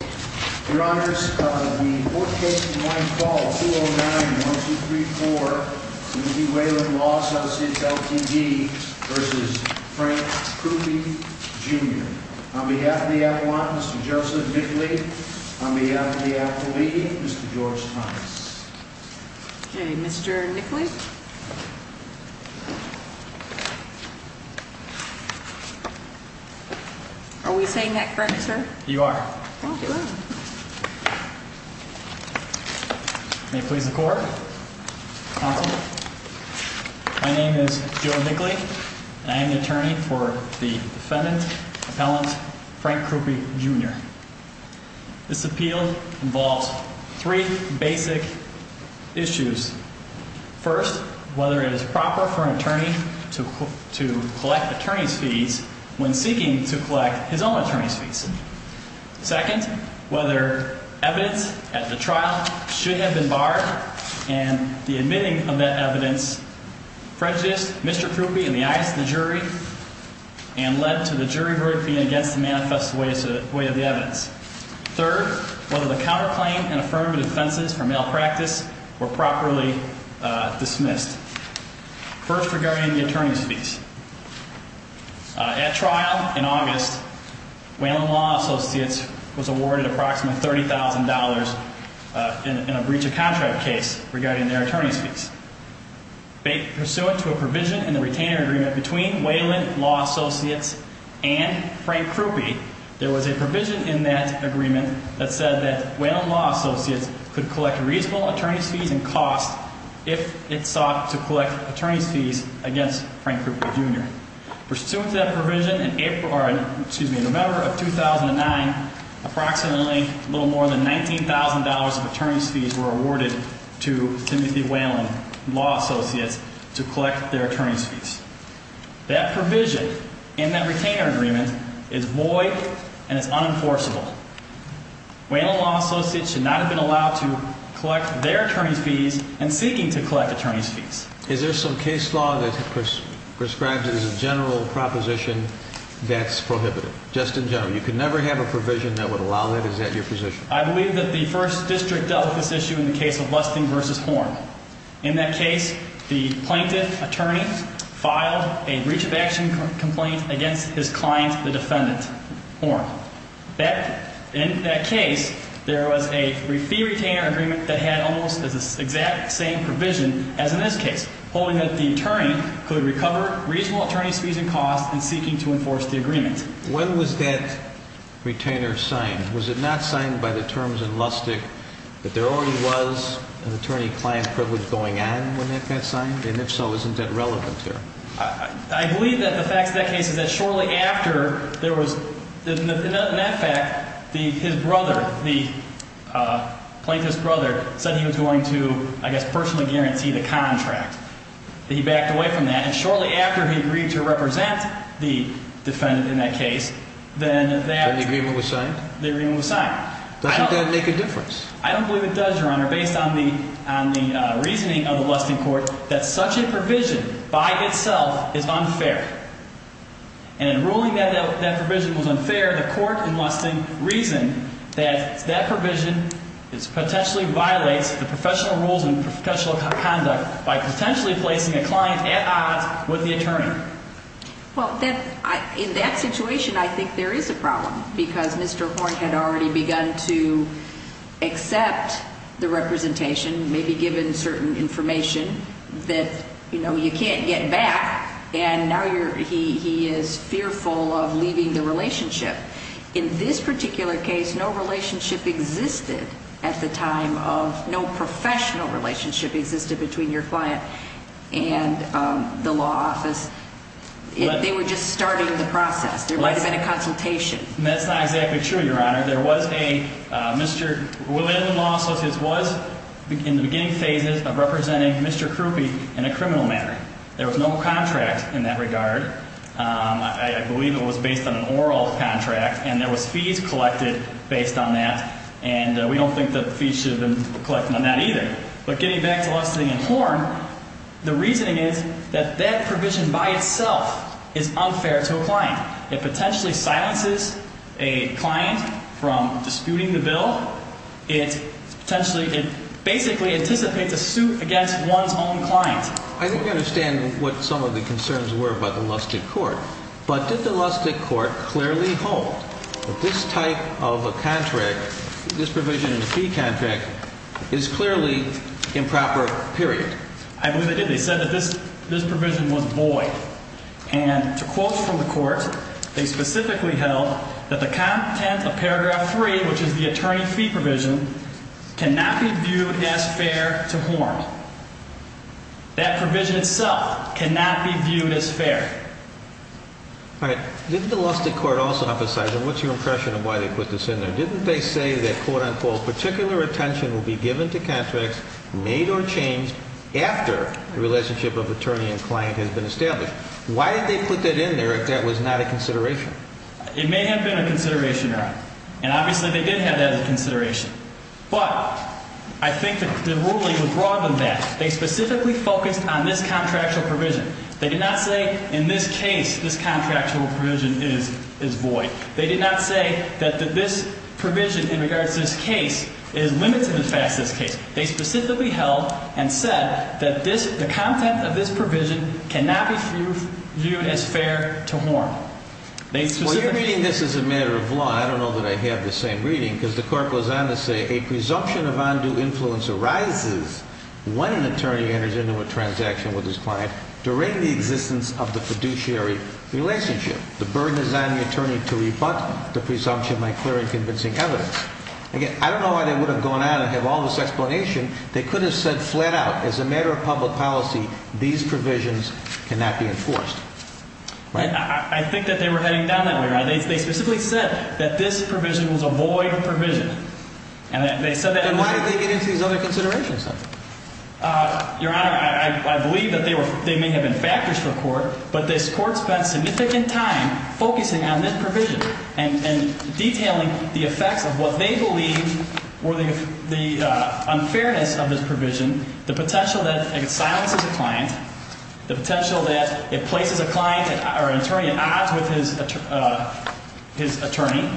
Jr. On behalf of the appellant, Mr. Joseph Nickley, on behalf of the appellee, Mr. George Thomas. Okay, Mr. Nickley. Are we saying that correct, sir? You are. May it please the court. Counsel, my name is Joe Nickley, and I am the attorney for the defendant appellant Frank Kruppe Jr. This appeal involves three basic issues. First, whether it is proper for an attorney to collect attorney's fees when seeking to collect his own attorney's fees. Second, whether evidence at the trial should have been barred and the admitting of that evidence prejudiced Mr. Kruppe in the eyes of the jury and led to the jury voting against the manifest way of the evidence. Third, whether the counterclaim and affirmative defenses for malpractice were properly dismissed. First, regarding the attorney's fees. At trial in August, Whelan Law Associates was awarded approximately $30,000 in a breach of contract case regarding their attorney's fees. In the case of Frank Kruppe Jr., there was a provision in the retainer agreement between Whelan Law Associates and Frank Kruppe. There was a provision in that agreement that said that Whelan Law Associates could collect reasonable attorney's fees and costs if it sought to collect attorney's fees against Frank Kruppe Jr. Pursuant to that provision in November of 2009, approximately a little more than $19,000 of attorney's fees were awarded to Timothy Whelan Law Associates to collect their attorney's fees. That provision in that retainer agreement is void and is unenforceable. Whelan Law Associates should not have been allowed to collect their attorney's fees and seeking to collect attorney's fees. Is there some case law that prescribes it as a general proposition that's prohibited? Just in general? You could never have a provision that would allow that? Is that your position? I believe that the first district dealt with this issue in the case of Weston v. Horn. In that case, the plaintiff attorney filed a breach of action complaint against his client, the defendant, Horn. In that case, there was a fee retainer agreement that had almost the exact same provision as in this case, holding that the attorney could recover reasonable attorney's fees and costs in seeking to enforce the agreement. When was that retainer signed? Was it not signed by the terms and lustic that there already was an attorney-client privilege going on when that got signed? And if so, isn't that relevant there? I believe that the facts of that case is that shortly after there was – in that fact, his brother, the plaintiff's brother, said he was going to, I guess, personally guarantee the contract. He backed away from that, and shortly after he agreed to represent the defendant in that case, then that – So the agreement was signed? The agreement was signed. Doesn't that make a difference? I don't believe it does, Your Honor, based on the reasoning of the Weston court, that such a provision by itself is unfair. And in ruling that that provision was unfair, the court in Weston reasoned that that provision potentially violates the professional rules and professional conduct by potentially placing a client at odds with the attorney. Well, in that situation, I think there is a problem because Mr. Horne had already begun to accept the representation, maybe given certain information that, you know, you can't get back, and now he is fearful of leaving the relationship. In this particular case, no relationship existed at the time of – no professional relationship existed between your client and the law office. They were just starting the process. There might have been a consultation. That's not exactly true, Your Honor. There was a – Mr. Willen and Law Associates was in the beginning phases of representing Mr. Krupe in a criminal manner. There was no contract in that regard. I believe it was based on an oral contract, and there was fees collected based on that, and we don't think that the fees should have been collected on that either. But getting back to Lustig and Horne, the reasoning is that that provision by itself is unfair to a client. It potentially silences a client from disputing the bill. It potentially – it basically anticipates a suit against one's own client. I think I understand what some of the concerns were by the Lustig court, but did the Lustig court clearly hold that this type of a contract, this provision in the fee contract, is clearly improper, period? I believe they did. They said that this provision was void, and to quote from the court, they specifically held that the content of paragraph 3, which is the attorney fee provision, cannot be viewed as fair to Horne. That provision itself cannot be viewed as fair. All right. Didn't the Lustig court also emphasize – and what's your impression of why they put this in there? Didn't they say that, quote-unquote, particular attention will be given to contracts made or changed after the relationship of attorney and client has been established? Why did they put that in there if that was not a consideration? It may have been a consideration, Your Honor, and obviously they did have that as a consideration. But I think the ruling would broaden that. They specifically focused on this contractual provision. They did not say in this case this contractual provision is void. They did not say that this provision in regards to this case is limited as far as this case. They specifically held and said that the content of this provision cannot be viewed as fair to Horne. Well, you're reading this as a matter of law. I don't know that I have the same reading because the court goes on to say a presumption of undue influence arises when an attorney enters into a transaction with his client during the existence of the fiduciary relationship. The burden is on the attorney to rebut the presumption by clear and convincing evidence. Again, I don't know why they would have gone out and have all this explanation. They could have said flat out as a matter of public policy these provisions cannot be enforced. I think that they were heading down that way. They specifically said that this provision was a void provision. And they said that. And why did they get into these other considerations? Your Honor, I believe that they may have been factors for the court, but this court spent significant time focusing on this provision and detailing the effects of what they believe were the unfairness of this provision, the potential that it silences a client, the potential that it places a client or an attorney at odds with his attorney.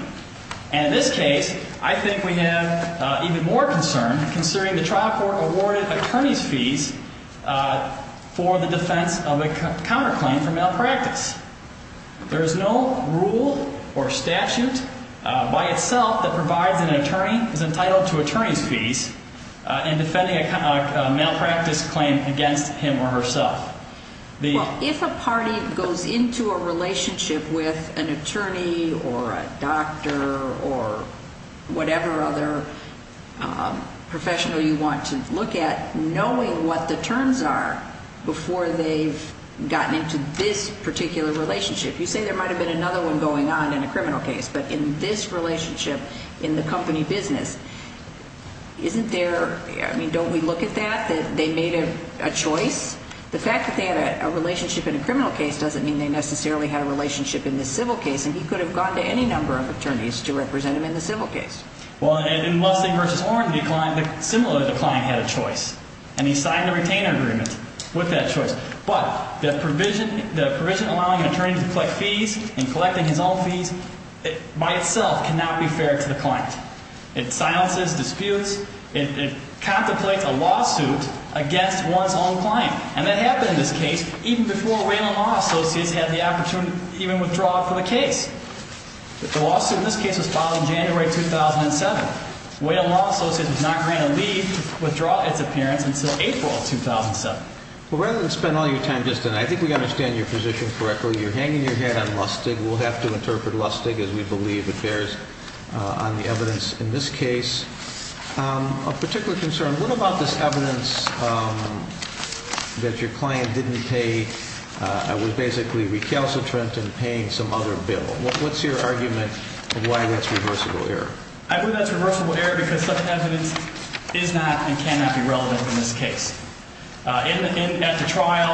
And in this case, I think we have even more concern considering the trial court awarded attorney's fees for the defense of a counterclaim for malpractice. There is no rule or statute by itself that provides an attorney is entitled to attorney's fees in defending a malpractice claim against him or herself. Well, if a party goes into a relationship with an attorney or a doctor or whatever other professional you want to look at, knowing what the terms are before they've gotten into this particular relationship, you say there might have been another one going on in a criminal case, but in this relationship in the company business, isn't there, I mean, don't we look at that, that they made a choice? The fact that they had a relationship in a criminal case doesn't mean they necessarily had a relationship in this civil case, and he could have gone to any number of attorneys to represent him in the civil case. Well, in Mustang v. Orrin, the client, similar to the client, had a choice, and he signed a retainer agreement with that choice. But the provision allowing an attorney to collect fees and collecting his own fees by itself cannot be fair to the client. It silences disputes. It contemplates a lawsuit against one's own client, and that happened in this case even before Whalen Law Associates had the opportunity to even withdraw for the case. The lawsuit in this case was filed in January 2007. Whalen Law Associates does not grant a leave to withdraw its appearance until April 2007. Well, rather than spend all your time just on that, I think we understand your position correctly. You're hanging your head on Lustig. We'll have to interpret Lustig as we believe it bears on the evidence in this case. A particular concern, what about this evidence that your client didn't pay, was basically recalcitrant in paying some other bill? What's your argument of why that's reversible error? I believe that's reversible error because such evidence is not and cannot be relevant in this case. At the trial,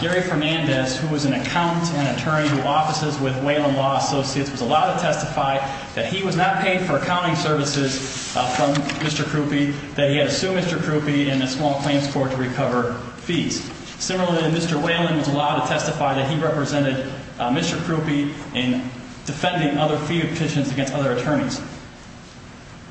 Gary Fernandez, who was an accountant and attorney who offices with Whalen Law Associates, was allowed to testify that he was not paid for accounting services from Mr. Krupe, that he had to sue Mr. Krupe in a small claims court to recover fees. Similarly, Mr. Whalen was allowed to testify that he represented Mr. Krupe in defending other fee petitions against other attorneys.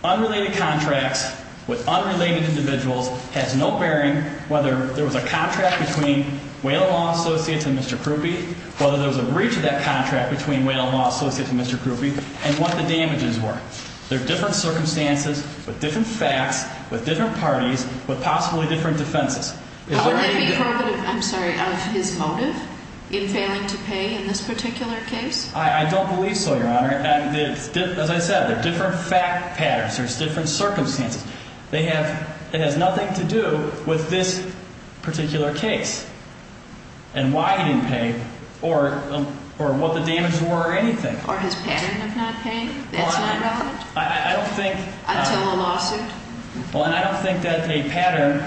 Unrelated contracts with unrelated individuals has no bearing whether there was a contract between Whalen Law Associates and Mr. Krupe, whether there was a breach of that contract between Whalen Law Associates and Mr. Krupe, and what the damages were. They're different circumstances with different facts, with different parties, with possibly different defenses. Would that be part of his motive in failing to pay in this particular case? I don't believe so, Your Honor. As I said, they're different fact patterns. There's different circumstances. It has nothing to do with this particular case and why he didn't pay or what the damages were or anything. Or his pattern of not paying? That's not relevant? I don't think. Until a lawsuit? Well, and I don't think that a pattern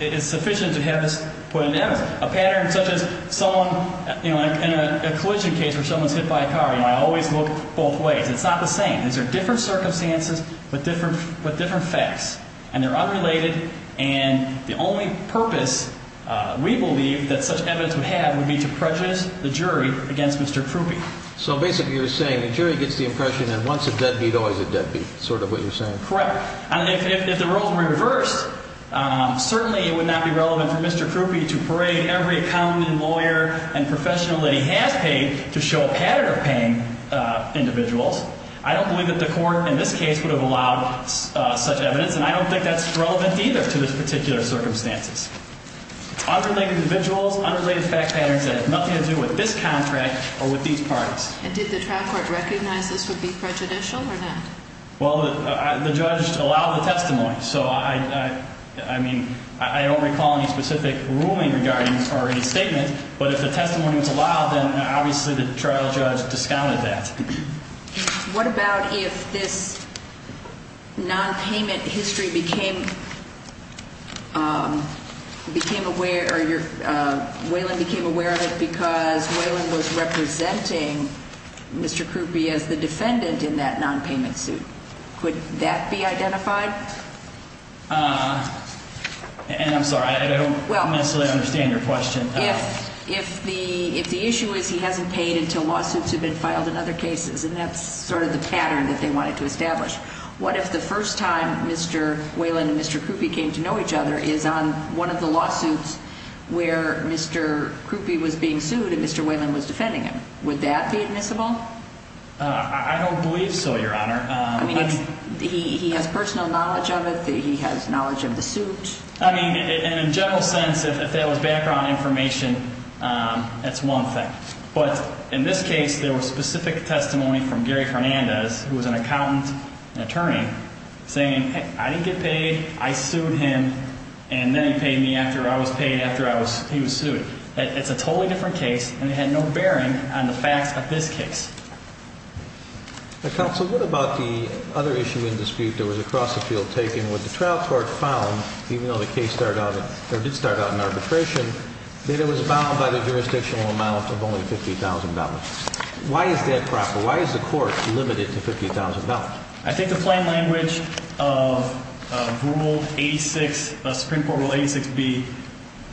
is sufficient to have this put into evidence. A pattern such as someone, you know, in a collision case where someone's hit by a car, you know, I always look both ways. It's not the same. These are different circumstances with different facts, and they're unrelated. And the only purpose we believe that such evidence would have would be to prejudice the jury against Mr. Krupe. So basically you're saying the jury gets the impression that once a deadbeat, always a deadbeat is sort of what you're saying? Correct. And if the roles were reversed, certainly it would not be relevant for Mr. Krupe to parade every accountant and lawyer and professional that he has paid to show a pattern of paying individuals. I don't believe that the court in this case would have allowed such evidence, and I don't think that's relevant either to these particular circumstances. Unrelated individuals, unrelated fact patterns that have nothing to do with this contract or with these parties. And did the trial court recognize this would be prejudicial or not? Well, the judge allowed the testimony. So I mean, I don't recall any specific ruling regarding or any statement, but if the testimony was allowed, then obviously the trial judge discounted that. What about if this nonpayment history became aware or Waylon became aware of it because Waylon was representing Mr. Krupe as the defendant in that nonpayment suit? Could that be identified? And I'm sorry, I don't necessarily understand your question. If the issue is he hasn't paid until lawsuits have been filed in other cases, and that's sort of the pattern that they wanted to establish, what if the first time Mr. Waylon and Mr. Krupe came to know each other is on one of the lawsuits where Mr. Krupe was being sued and Mr. Waylon was defending him? Would that be admissible? I don't believe so, Your Honor. I mean, he has personal knowledge of it. He has knowledge of the suit. I mean, in a general sense, if that was background information, that's one thing. But in this case, there was specific testimony from Gary Fernandez, who was an accountant and attorney, saying I didn't get paid, I sued him, and then he paid me after I was paid after he was sued. It's a totally different case, and it had no bearing on the facts of this case. Counsel, what about the other issue in dispute that was across the field, taking what the trial court found, even though the case did start out in arbitration, that it was bound by the jurisdictional amount of only $50,000? Why is that proper? Why is the court limited to $50,000? I think the plain language of Rule 86, Supreme Court Rule 86B,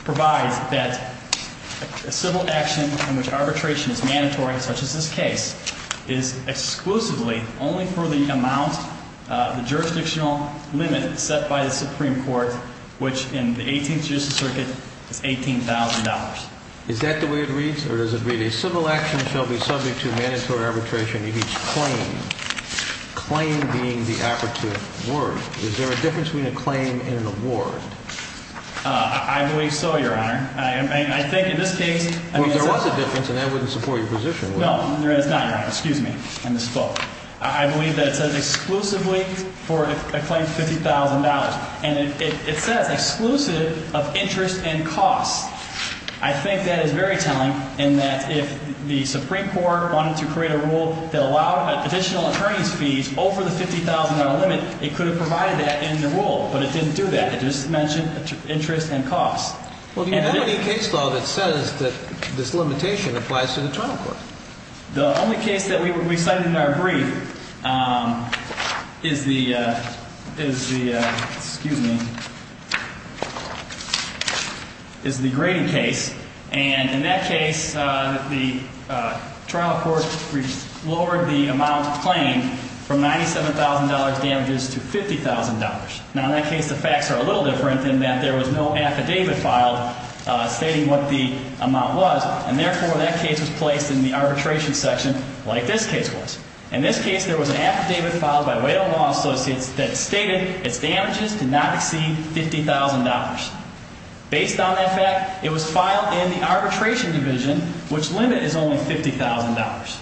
provides that a civil action in which arbitration is mandatory, such as this case, is exclusively only for the amount, the jurisdictional limit set by the Supreme Court, which in the 18th Judicial Circuit is $18,000. Is that the way it reads, or does it read, a civil action shall be subject to mandatory arbitration in each claim? Claim being the affidavit word. Is there a difference between a claim and an award? I believe so, Your Honor. I think in this case – Well, if there was a difference, then that wouldn't support your position, would it? No, there is not, Your Honor. Excuse me. I believe that it says exclusively for a claim of $50,000. And it says exclusive of interest and cost. I think that is very telling in that if the Supreme Court wanted to create a rule that allowed additional attorney's fees over the $50,000 limit, it could have provided that in the rule. But it didn't do that. It just mentioned interest and cost. Well, do you have any case law that says that this limitation applies to the trial court? The only case that we cited in our brief is the grading case. And in that case, the trial court lowered the amount claimed from $97,000 damages to $50,000. Now, in that case, the facts are a little different in that there was no affidavit filed stating what the amount was. And therefore, that case was placed in the arbitration section like this case was. In this case, there was an affidavit filed by Wedell Law Associates that stated its damages did not exceed $50,000. Based on that fact, it was filed in the arbitration division, which limit is only $50,000.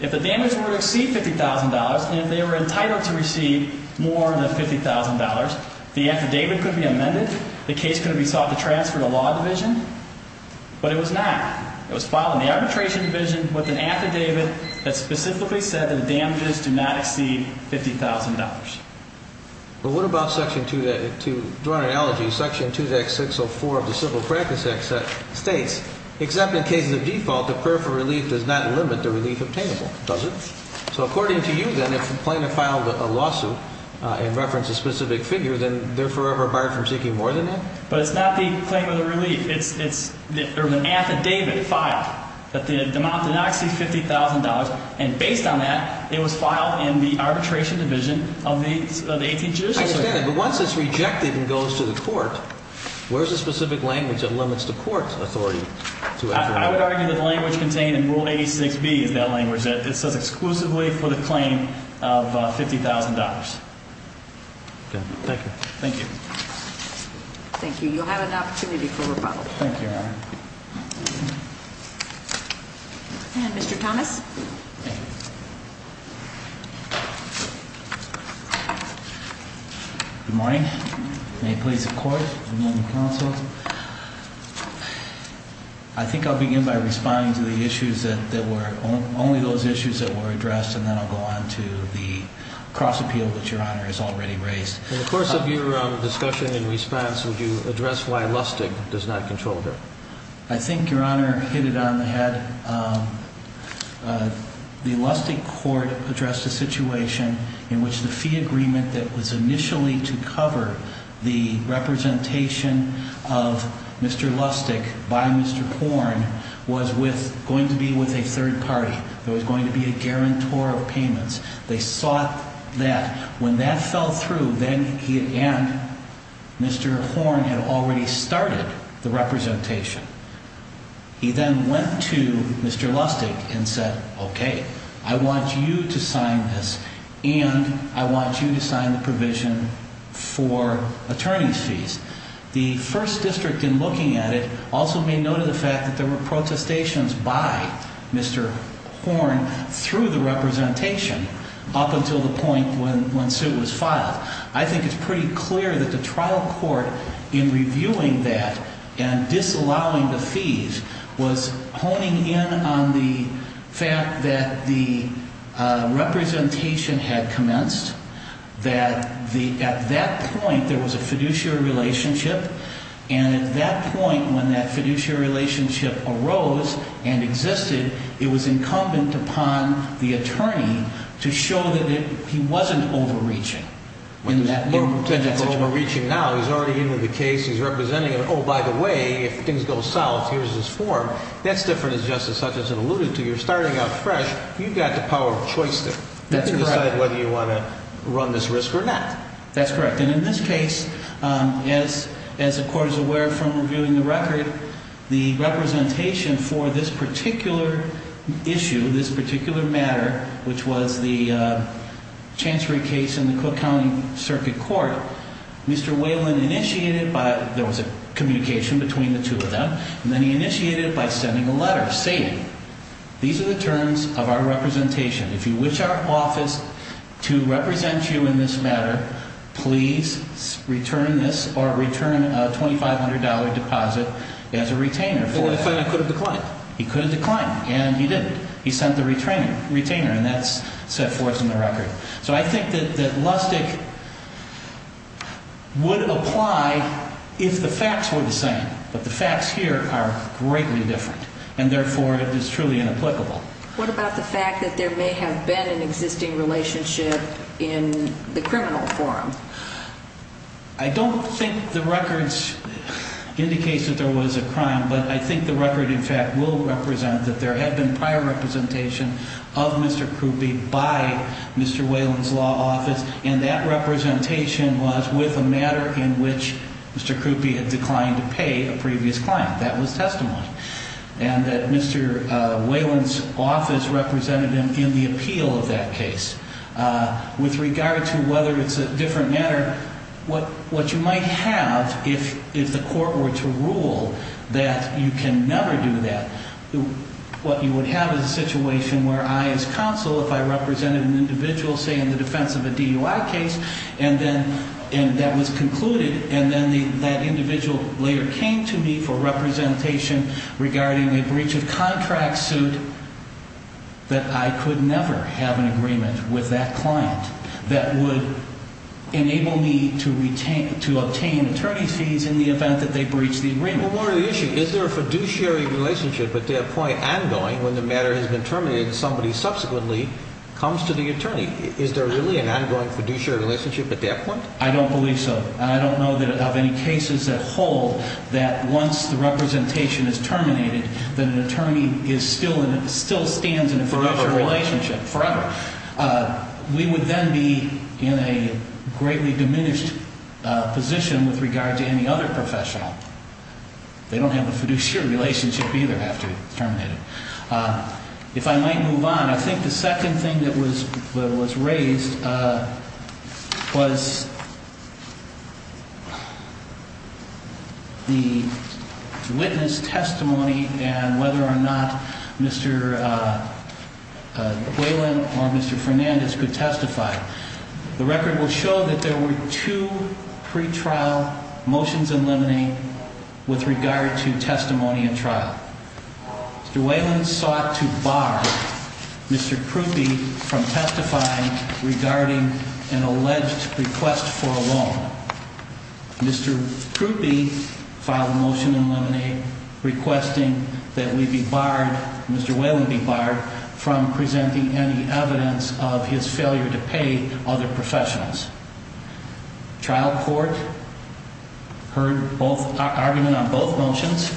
If the damages were to exceed $50,000 and if they were entitled to receive more than $50,000, the affidavit could be amended. The case could be sought to transfer to law division. But it was not. It was filed in the arbitration division with an affidavit that specifically said that the damages do not exceed $50,000. Well, what about Section 2, to draw an analogy, Section 2.604 of the Civil Practice Act states, except in cases of default, the purfer relief does not limit the relief obtainable, does it? So according to you, then, if a plaintiff filed a lawsuit in reference to a specific figure, then they're forever barred from seeking more than that? But it's not the claim of the relief. It's an affidavit filed that the amount did not exceed $50,000. And based on that, it was filed in the arbitration division of the 18th Judicial Circuit. I understand that. But once it's rejected and goes to the court, where's the specific language that limits the court's authority? I would argue that the language contained in Rule 86B is that language. It says exclusively for the claim of $50,000. Okay. Thank you. Thank you. Thank you. You'll have an opportunity for rebuttal. Thank you, Your Honor. And Mr. Thomas? Thank you. Good morning. May it please the Court and the Counsel. I think I'll begin by responding to the issues that were only those issues that were addressed, and then I'll go on to the cross-appeal that Your Honor has already raised. In the course of your discussion and response, would you address why Lustig does not control it? I think Your Honor hit it on the head. The Lustig court addressed a situation in which the fee agreement that was initially to cover the representation of Mr. Lustig by Mr. Korn was going to be with a third party. It was going to be a guarantor of payments. They sought that. When that fell through, then he and Mr. Korn had already started the representation. He then went to Mr. Lustig and said, Okay, I want you to sign this, and I want you to sign the provision for attorney's fees. The First District, in looking at it, also made note of the fact that there were protestations by Mr. Korn through the representation up until the point when suit was filed. I think it's pretty clear that the trial court, in reviewing that and disallowing the fees, was honing in on the fact that the representation had commenced, that at that point there was a fiduciary relationship, and at that point when that fiduciary relationship arose and existed, it was incumbent upon the attorney to show that he wasn't overreaching. He's not overreaching now. He's already in with the case. He's representing it. Oh, by the way, if things go south, here's his form. That's different as Justice Hutchinson alluded to. You're starting out fresh. You've got the power of choice to decide whether you want to… run this risk or not. That's correct. And in this case, as the court is aware from reviewing the record, the representation for this particular issue, this particular matter, which was the chancery case in the Cook County Circuit Court, Mr. Whalen initiated by… there was a communication between the two of them, and then he initiated it by sending a letter saying, These are the terms of our representation. If you wish our office to represent you in this matter, please return this or return a $2,500 deposit as a retainer. He could have declined. He could have declined, and he didn't. He sent the retainer, and that's set forth in the record. So I think that Lustig would apply if the facts were the same, but the facts here are greatly different, and therefore it is truly inapplicable. What about the fact that there may have been an existing relationship in the criminal forum? I don't think the records indicate that there was a crime, but I think the record, in fact, will represent that there had been prior representation of Mr. Krupe by Mr. Whalen's law office, and that representation was with a matter in which Mr. Krupe had declined to pay a previous client. That was testimony. And that Mr. Whalen's office represented him in the appeal of that case. With regard to whether it's a different matter, what you might have is the court were to rule that you can never do that. What you would have is a situation where I as counsel, if I represented an individual, say, in the defense of a DUI case, and that was concluded, and then that individual later came to me for representation regarding a breach of contract suit, that I could never have an agreement with that client that would enable me to obtain attorney's fees in the event that they breached the agreement. One more issue. Is there a fiduciary relationship at that point ongoing when the matter has been terminated and somebody subsequently comes to the attorney? Is there really an ongoing fiduciary relationship at that point? I don't believe so. I don't know of any cases that hold that once the representation is terminated that an attorney still stands in a fiduciary relationship forever. We would then be in a greatly diminished position with regard to any other professional. They don't have a fiduciary relationship either after it's terminated. If I might move on, I think the second thing that was raised was the witness testimony and whether or not Mr. Whalen or Mr. Fernandez could testify. The record will show that there were two pretrial motions in limine with regard to testimony in trial. Mr. Whalen sought to bar Mr. Krupe from testifying regarding an alleged request for a loan. Mr. Krupe filed a motion in limine requesting that we be barred, Mr. Whalen be barred, from presenting any evidence of his failure to pay other professionals. Trial court heard argument on both motions,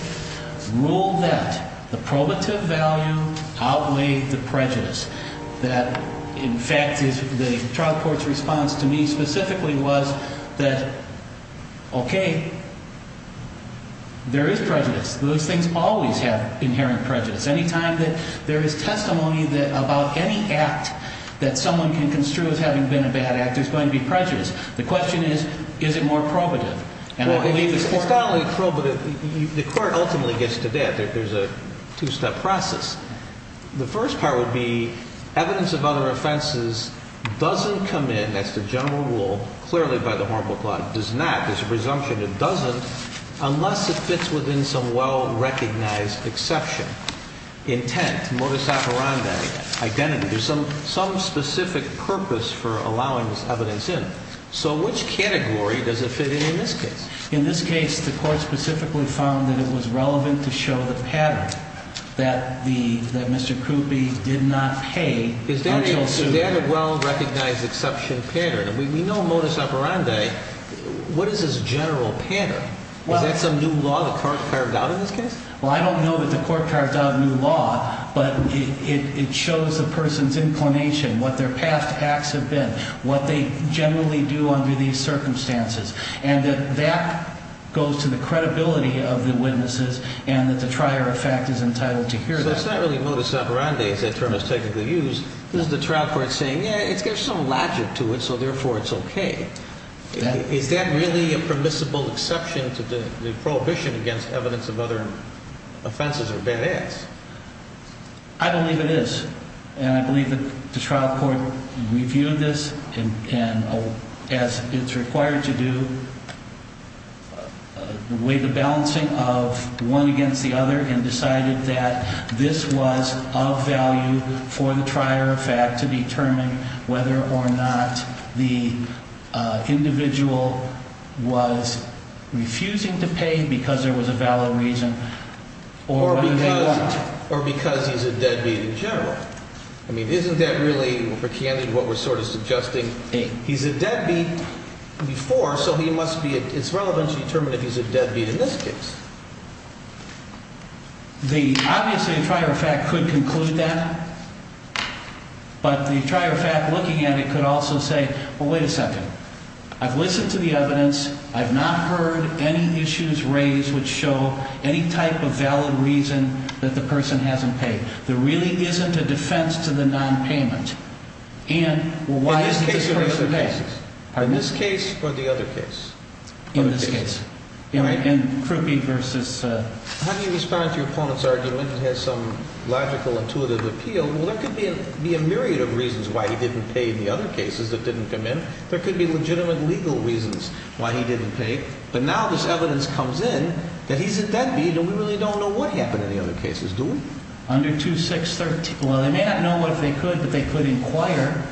ruled that the probative value outweighed the prejudice. That, in fact, the trial court's response to me specifically was that, okay, there is prejudice. Those things always have inherent prejudice. Any time that there is testimony about any act that someone can construe as having been a bad actor is going to be prejudiced. The question is, is it more probative? It's not only probative. The court ultimately gets to that. There's a two-step process. The first part would be evidence of other offenses doesn't come in, that's the general rule, clearly by the Hormel Clause, does not. There's a presumption it doesn't unless it fits within some well-recognized exception. Intent, modus operandi, identity, there's some specific purpose for allowing this evidence in. So which category does it fit in in this case? In this case, the court specifically found that it was relevant to show the pattern that Mr. Krupe did not pay until soon after. Is that a well-recognized exception pattern? We know modus operandi. What is this general pattern? Is that some new law the court carved out in this case? Well, I don't know that the court carved out a new law, but it shows the person's inclination, what their past acts have been, what they generally do under these circumstances, and that that goes to the credibility of the witnesses and that the trier of fact is entitled to hear that. So it's not really modus operandi, as that term is technically used. This is the trial court saying, yeah, there's some logic to it, so therefore it's okay. Is that really a permissible exception to the prohibition against evidence of other offenses or bad acts? I believe it is. And I believe that the trial court reviewed this and, as it's required to do, weighed the balancing of one against the other and decided that this was of value for the trier of fact to determine whether or not the individual was refusing to pay because there was a valid reason or whether they wanted to. Or because he's a deadbeat in general. I mean, isn't that really, for Kennedy, what we're sort of suggesting? He's a deadbeat before, so it's relevant to determine if he's a deadbeat in this case. Obviously, the trier of fact could conclude that, but the trier of fact looking at it could also say, well, wait a second. I've listened to the evidence. I've not heard any issues raised which show any type of valid reason that the person hasn't paid. There really isn't a defense to the nonpayment. And why isn't this person paying? In this case or the other case? In this case. How do you respond to your opponent's argument that has some logical, intuitive appeal? Well, there could be a myriad of reasons why he didn't pay in the other cases that didn't come in. There could be legitimate legal reasons why he didn't pay. But now this evidence comes in that he's a deadbeat and we really don't know what happened in the other cases, do we? Under 2613. Well, they may not know what if they could, but they could inquire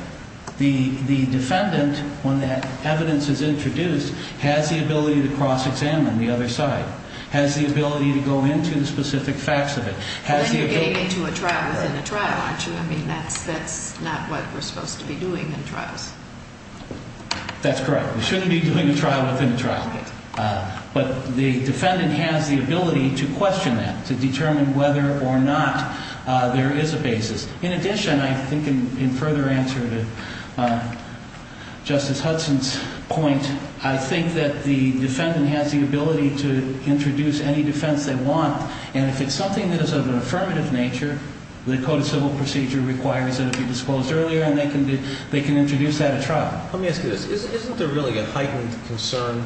the defendant when that evidence is introduced, has the ability to cross-examine the other side, has the ability to go into the specific facts of it. When you're getting into a trial within a trial, aren't you? I mean, that's not what we're supposed to be doing in trials. That's correct. We shouldn't be doing a trial within a trial. But the defendant has the ability to question that, to determine whether or not there is a basis. In addition, I think in further answer to Justice Hudson's point, I think that the defendant has the ability to introduce any defense they want. And if it's something that is of an affirmative nature, the Code of Civil Procedure requires that it be disclosed earlier, and they can introduce that at trial. Let me ask you this. Isn't there really a heightened concern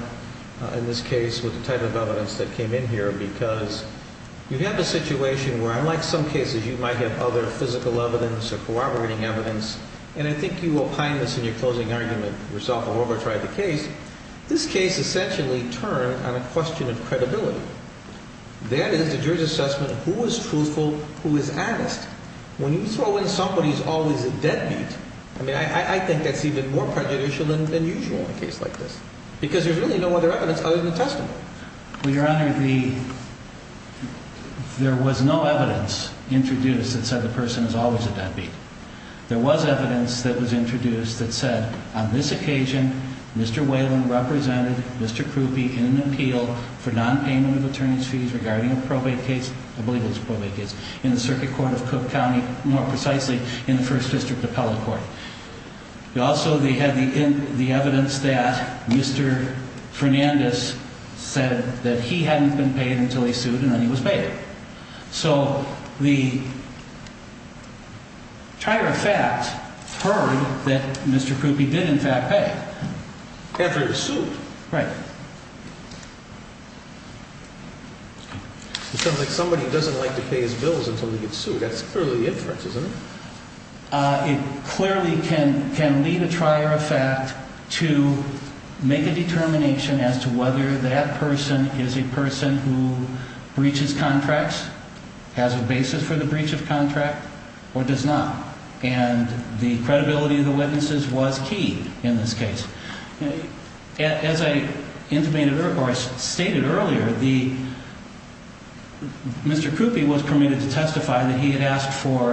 in this case with the type of evidence that came in here? Because you have a situation where, unlike some cases, you might have other physical evidence or corroborating evidence, and I think you opine this in your closing argument, this case essentially turned on a question of credibility. That is, the jury's assessment of who is truthful, who is honest. When you throw in somebody who's always a deadbeat, I mean, I think that's even more prejudicial than usual in a case like this, because there's really no other evidence other than the testimony. Well, Your Honor, there was no evidence introduced that said the person is always a deadbeat. There was evidence that was introduced that said, on this occasion, Mr. Whalen represented Mr. Krupe in an appeal for nonpayment of attorney's fees regarding a probate case, I believe it was a probate case, in the Circuit Court of Cook County, more precisely, in the First District Appellate Court. Also, they had the evidence that Mr. Fernandez said that he hadn't been paid until he sued, and then he was paid. So the trier of fact heard that Mr. Krupe did, in fact, pay. After he was sued. Right. It sounds like somebody doesn't like to pay his bills until they get sued. That's clearly the inference, isn't it? It clearly can lead a trier of fact to make a determination as to whether that person is a person who breaches contracts, has a basis for the breach of contract, or does not. And the credibility of the witnesses was key in this case. As I intimated earlier, or I stated earlier, Mr. Krupe was permitted to testify that he had asked for,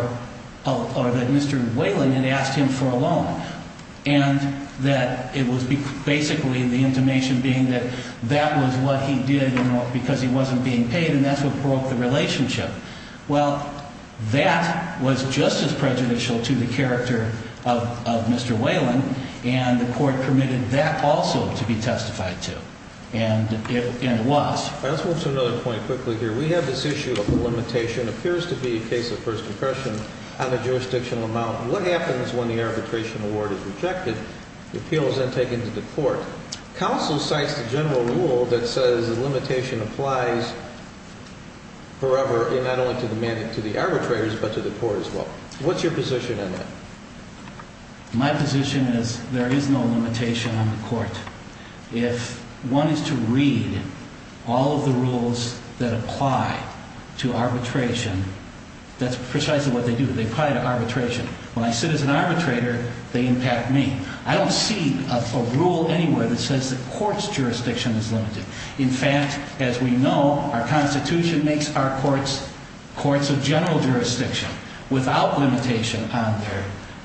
or that Mr. Whalen had asked him for a loan, and that it was basically the intimation being that that was what he did because he wasn't being paid, and that's what broke the relationship. Well, that was just as prejudicial to the character of Mr. Whalen, and the court permitted that also to be testified to. And it was. Let's move to another point quickly here. We have this issue of the limitation, appears to be a case of first impression on a jurisdictional amount. What happens when the arbitration award is rejected, the appeal is then taken to the court? Counsel cites the general rule that says the limitation applies forever, and not only to the arbitrators, but to the court as well. What's your position on that? My position is there is no limitation on the court. If one is to read all of the rules that apply to arbitration, that's precisely what they do. They apply to arbitration. When I sit as an arbitrator, they impact me. I don't see a rule anywhere that says the court's jurisdiction is limited. In fact, as we know, our Constitution makes our courts courts of general jurisdiction without limitation on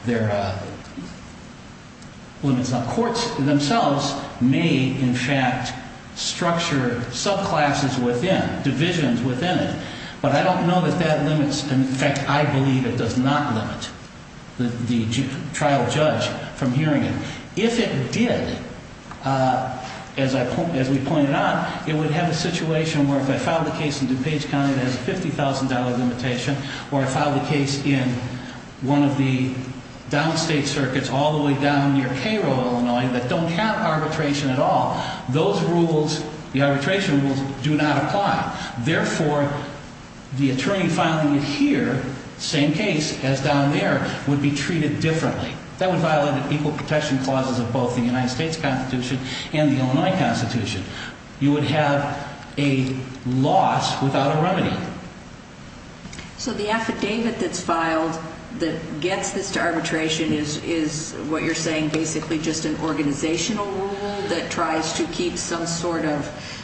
their limits. Now, courts themselves may, in fact, structure subclasses within, divisions within it, but I don't know that that limits. In fact, I believe it does not limit the trial judge from hearing it. If it did, as we pointed out, it would have a situation where if I filed a case in DuPage County that has a $50,000 limitation, or I filed a case in one of the downstate circuits all the way down near Cairo, Illinois, that don't have arbitration at all, those rules, the arbitration rules, do not apply. Therefore, the attorney filing it here, same case as down there, would be treated differently. That would violate equal protection clauses of both the United States Constitution and the Illinois Constitution. You would have a loss without a remedy. So the affidavit that's filed that gets this to arbitration is what you're saying, basically just an organizational rule that tries to keep some sort of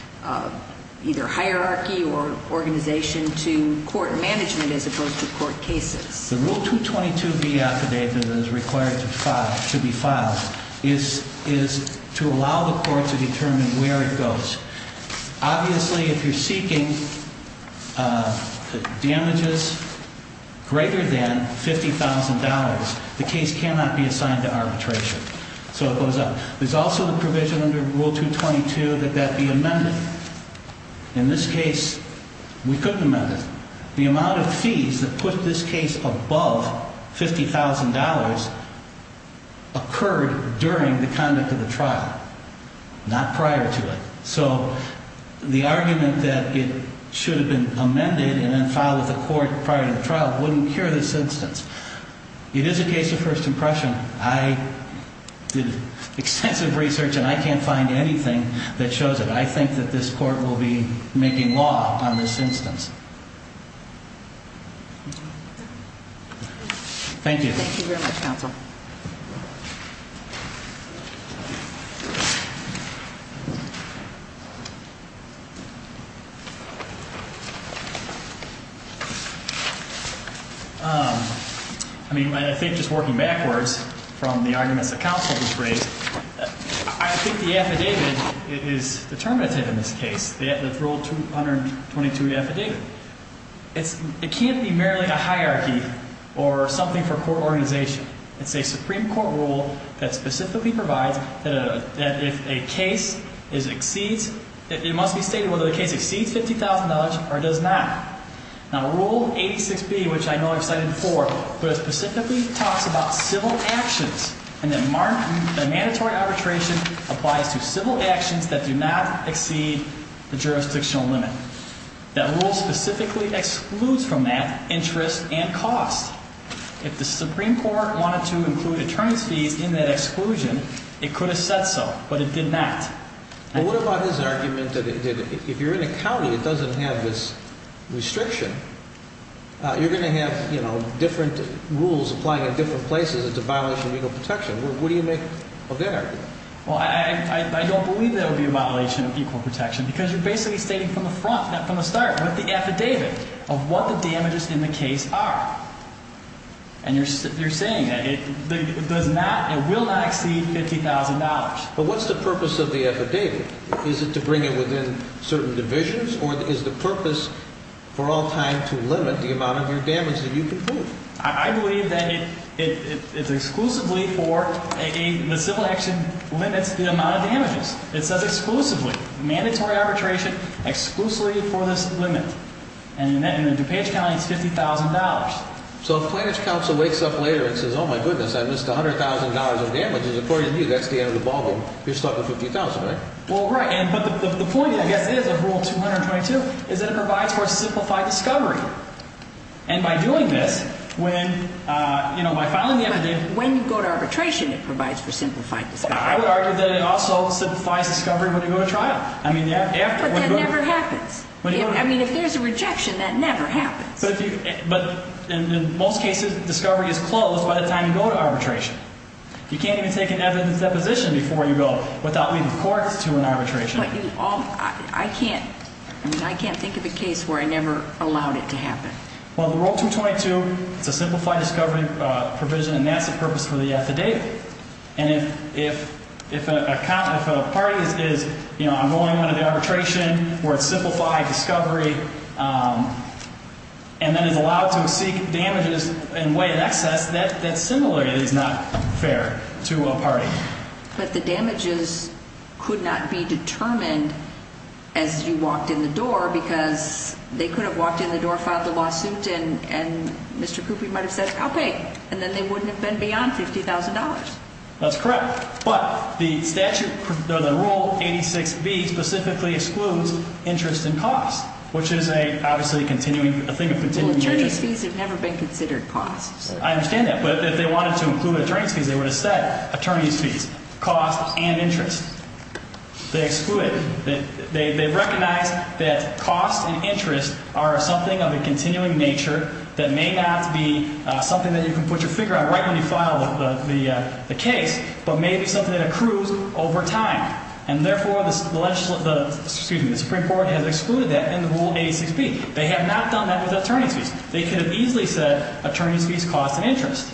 either hierarchy or organization to court management as opposed to court cases? The Rule 222B affidavit that is required to be filed is to allow the court to determine where it goes. Obviously, if you're seeking damages greater than $50,000, the case cannot be assigned to arbitration. So it goes up. There's also the provision under Rule 222 that that be amended. In this case, we couldn't amend it. The amount of fees that put this case above $50,000 occurred during the conduct of the trial, not prior to it. So the argument that it should have been amended and then filed with the court prior to the trial wouldn't cure this instance. It is a case of first impression. I did extensive research, and I can't find anything that shows it. I think that this court will be making law on this instance. Thank you. Thank you very much, Counsel. I mean, I think just working backwards from the arguments that Counsel just raised, I think the affidavit is determinative in this case, the Rule 222 affidavit. It can't be merely a hierarchy or something for court organization. It's a Supreme Court rule that specifically provides that if a case exceeds, it must be stated whether the case exceeds $50,000 or does not. Now, Rule 86B, which I know I've cited before, but it specifically talks about civil actions and that mandatory arbitration applies to civil actions that do not exceed the jurisdictional limit. That rule specifically excludes from that interest and cost. If the Supreme Court wanted to include attorney's fees in that exclusion, it could have said so, but it did not. Well, what about his argument that if you're in a county, it doesn't have this restriction, you're going to have different rules applying in different places. It's a violation of legal protection. What do you make of that argument? Well, I don't believe that it would be a violation of legal protection because you're basically stating from the front, not from the start, with the affidavit of what the damages in the case are. And you're saying that it does not, it will not exceed $50,000. But what's the purpose of the affidavit? Is it to bring it within certain divisions or is the purpose for all time to limit the amount of your damage that you can prove? I believe that it's exclusively for a, the civil action limits the amount of damages. It says exclusively, mandatory arbitration exclusively for this limit. And in DuPage County, it's $50,000. So if Plannage Council wakes up later and says, oh, my goodness, I missed $100,000 of damages, according to you, that's the end of the ballgame. You're stuck with $50,000, right? Well, right. But the point, I guess, is of Rule 222 is that it provides for a simplified discovery. And by doing this, when, you know, by filing the affidavit. When you go to arbitration, it provides for simplified discovery. Well, I would argue that it also simplifies discovery when you go to trial. I mean, after. But that never happens. I mean, if there's a rejection, that never happens. But in most cases, discovery is closed by the time you go to arbitration. You can't even take an evidence deposition before you go without leading courts to an arbitration. But you all, I can't, I mean, I can't think of a case where I never allowed it to happen. Well, the Rule 222, it's a simplified discovery provision, and that's the purpose for the affidavit. And if a party is, you know, I'm going on an arbitration where it's simplified discovery, and then is allowed to seek damages in way of excess, that's similarly not fair to a party. But the damages could not be determined as you walked in the door because they could have walked in the door, filed a lawsuit, and Mr. Coopey might have said, I'll pay. And then they wouldn't have been beyond $50,000. That's correct. But the statute, the Rule 86B specifically excludes interest and cost, which is a, obviously, continuing, a thing of continuing interest. Well, attorney's fees have never been considered costs. I understand that. But if they wanted to include attorney's fees, they would have said, attorney's fees, cost and interest. They exclude it. They recognize that cost and interest are something of a continuing nature that may not be something that you can put your finger on right when you file the case, but may be something that accrues over time. And therefore, the Supreme Court has excluded that in the Rule 86B. They have not done that with attorney's fees. They could have easily said, attorney's fees, cost and interest.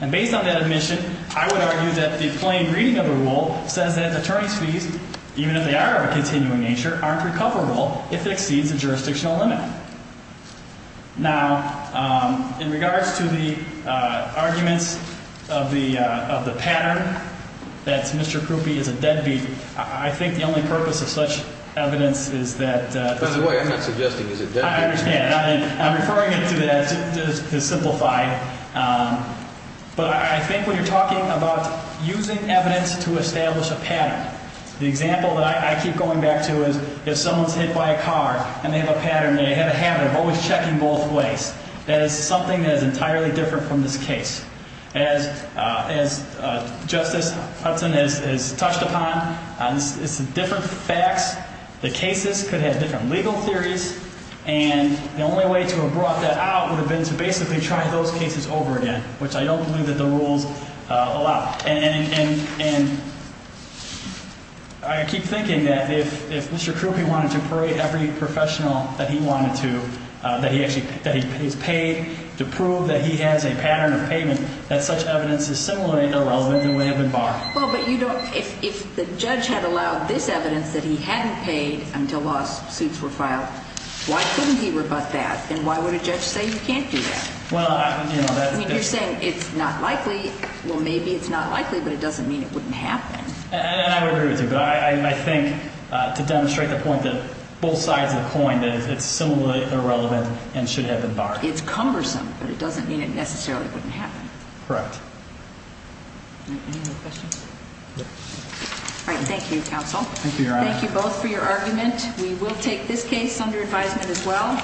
And based on that admission, I would argue that the plain reading of the rule says that attorney's fees, even if they are of a continuing nature, aren't recoverable if it exceeds the jurisdictional limit. Now, in regards to the arguments of the pattern that Mr. Coopey is a deadbeat, I think the only purpose of such evidence is that the – By the way, I'm not suggesting he's a deadbeat. I understand. I'm referring it to that to simplify. But I think when you're talking about using evidence to establish a pattern, the example that I keep going back to is if someone's hit by a car and they have a pattern, they have a habit of always checking both ways. That is something that is entirely different from this case. As Justice Hudson has touched upon, it's different facts. The cases could have different legal theories. And the only way to have brought that out would have been to basically try those cases over again, which I don't believe that the rules allow. And I keep thinking that if Mr. Coopey wanted to parade every professional that he wanted to, that he's paid to prove that he has a pattern of payment, that such evidence is similarly irrelevant and would have been barred. Well, but you don't – if the judge had allowed this evidence that he hadn't paid until lawsuits were filed, why couldn't he rebut that? And why would a judge say you can't do that? Well, I – I mean, you're saying it's not likely. Well, maybe it's not likely, but it doesn't mean it wouldn't happen. And I would agree with you. But I think to demonstrate the point that both sides of the coin that it's similarly irrelevant and should have been barred. It's cumbersome, but it doesn't mean it necessarily wouldn't happen. Correct. Any other questions? No. All right, thank you, counsel. Thank you, Your Honor. Thank you both for your argument. We will take this case under advisement as well.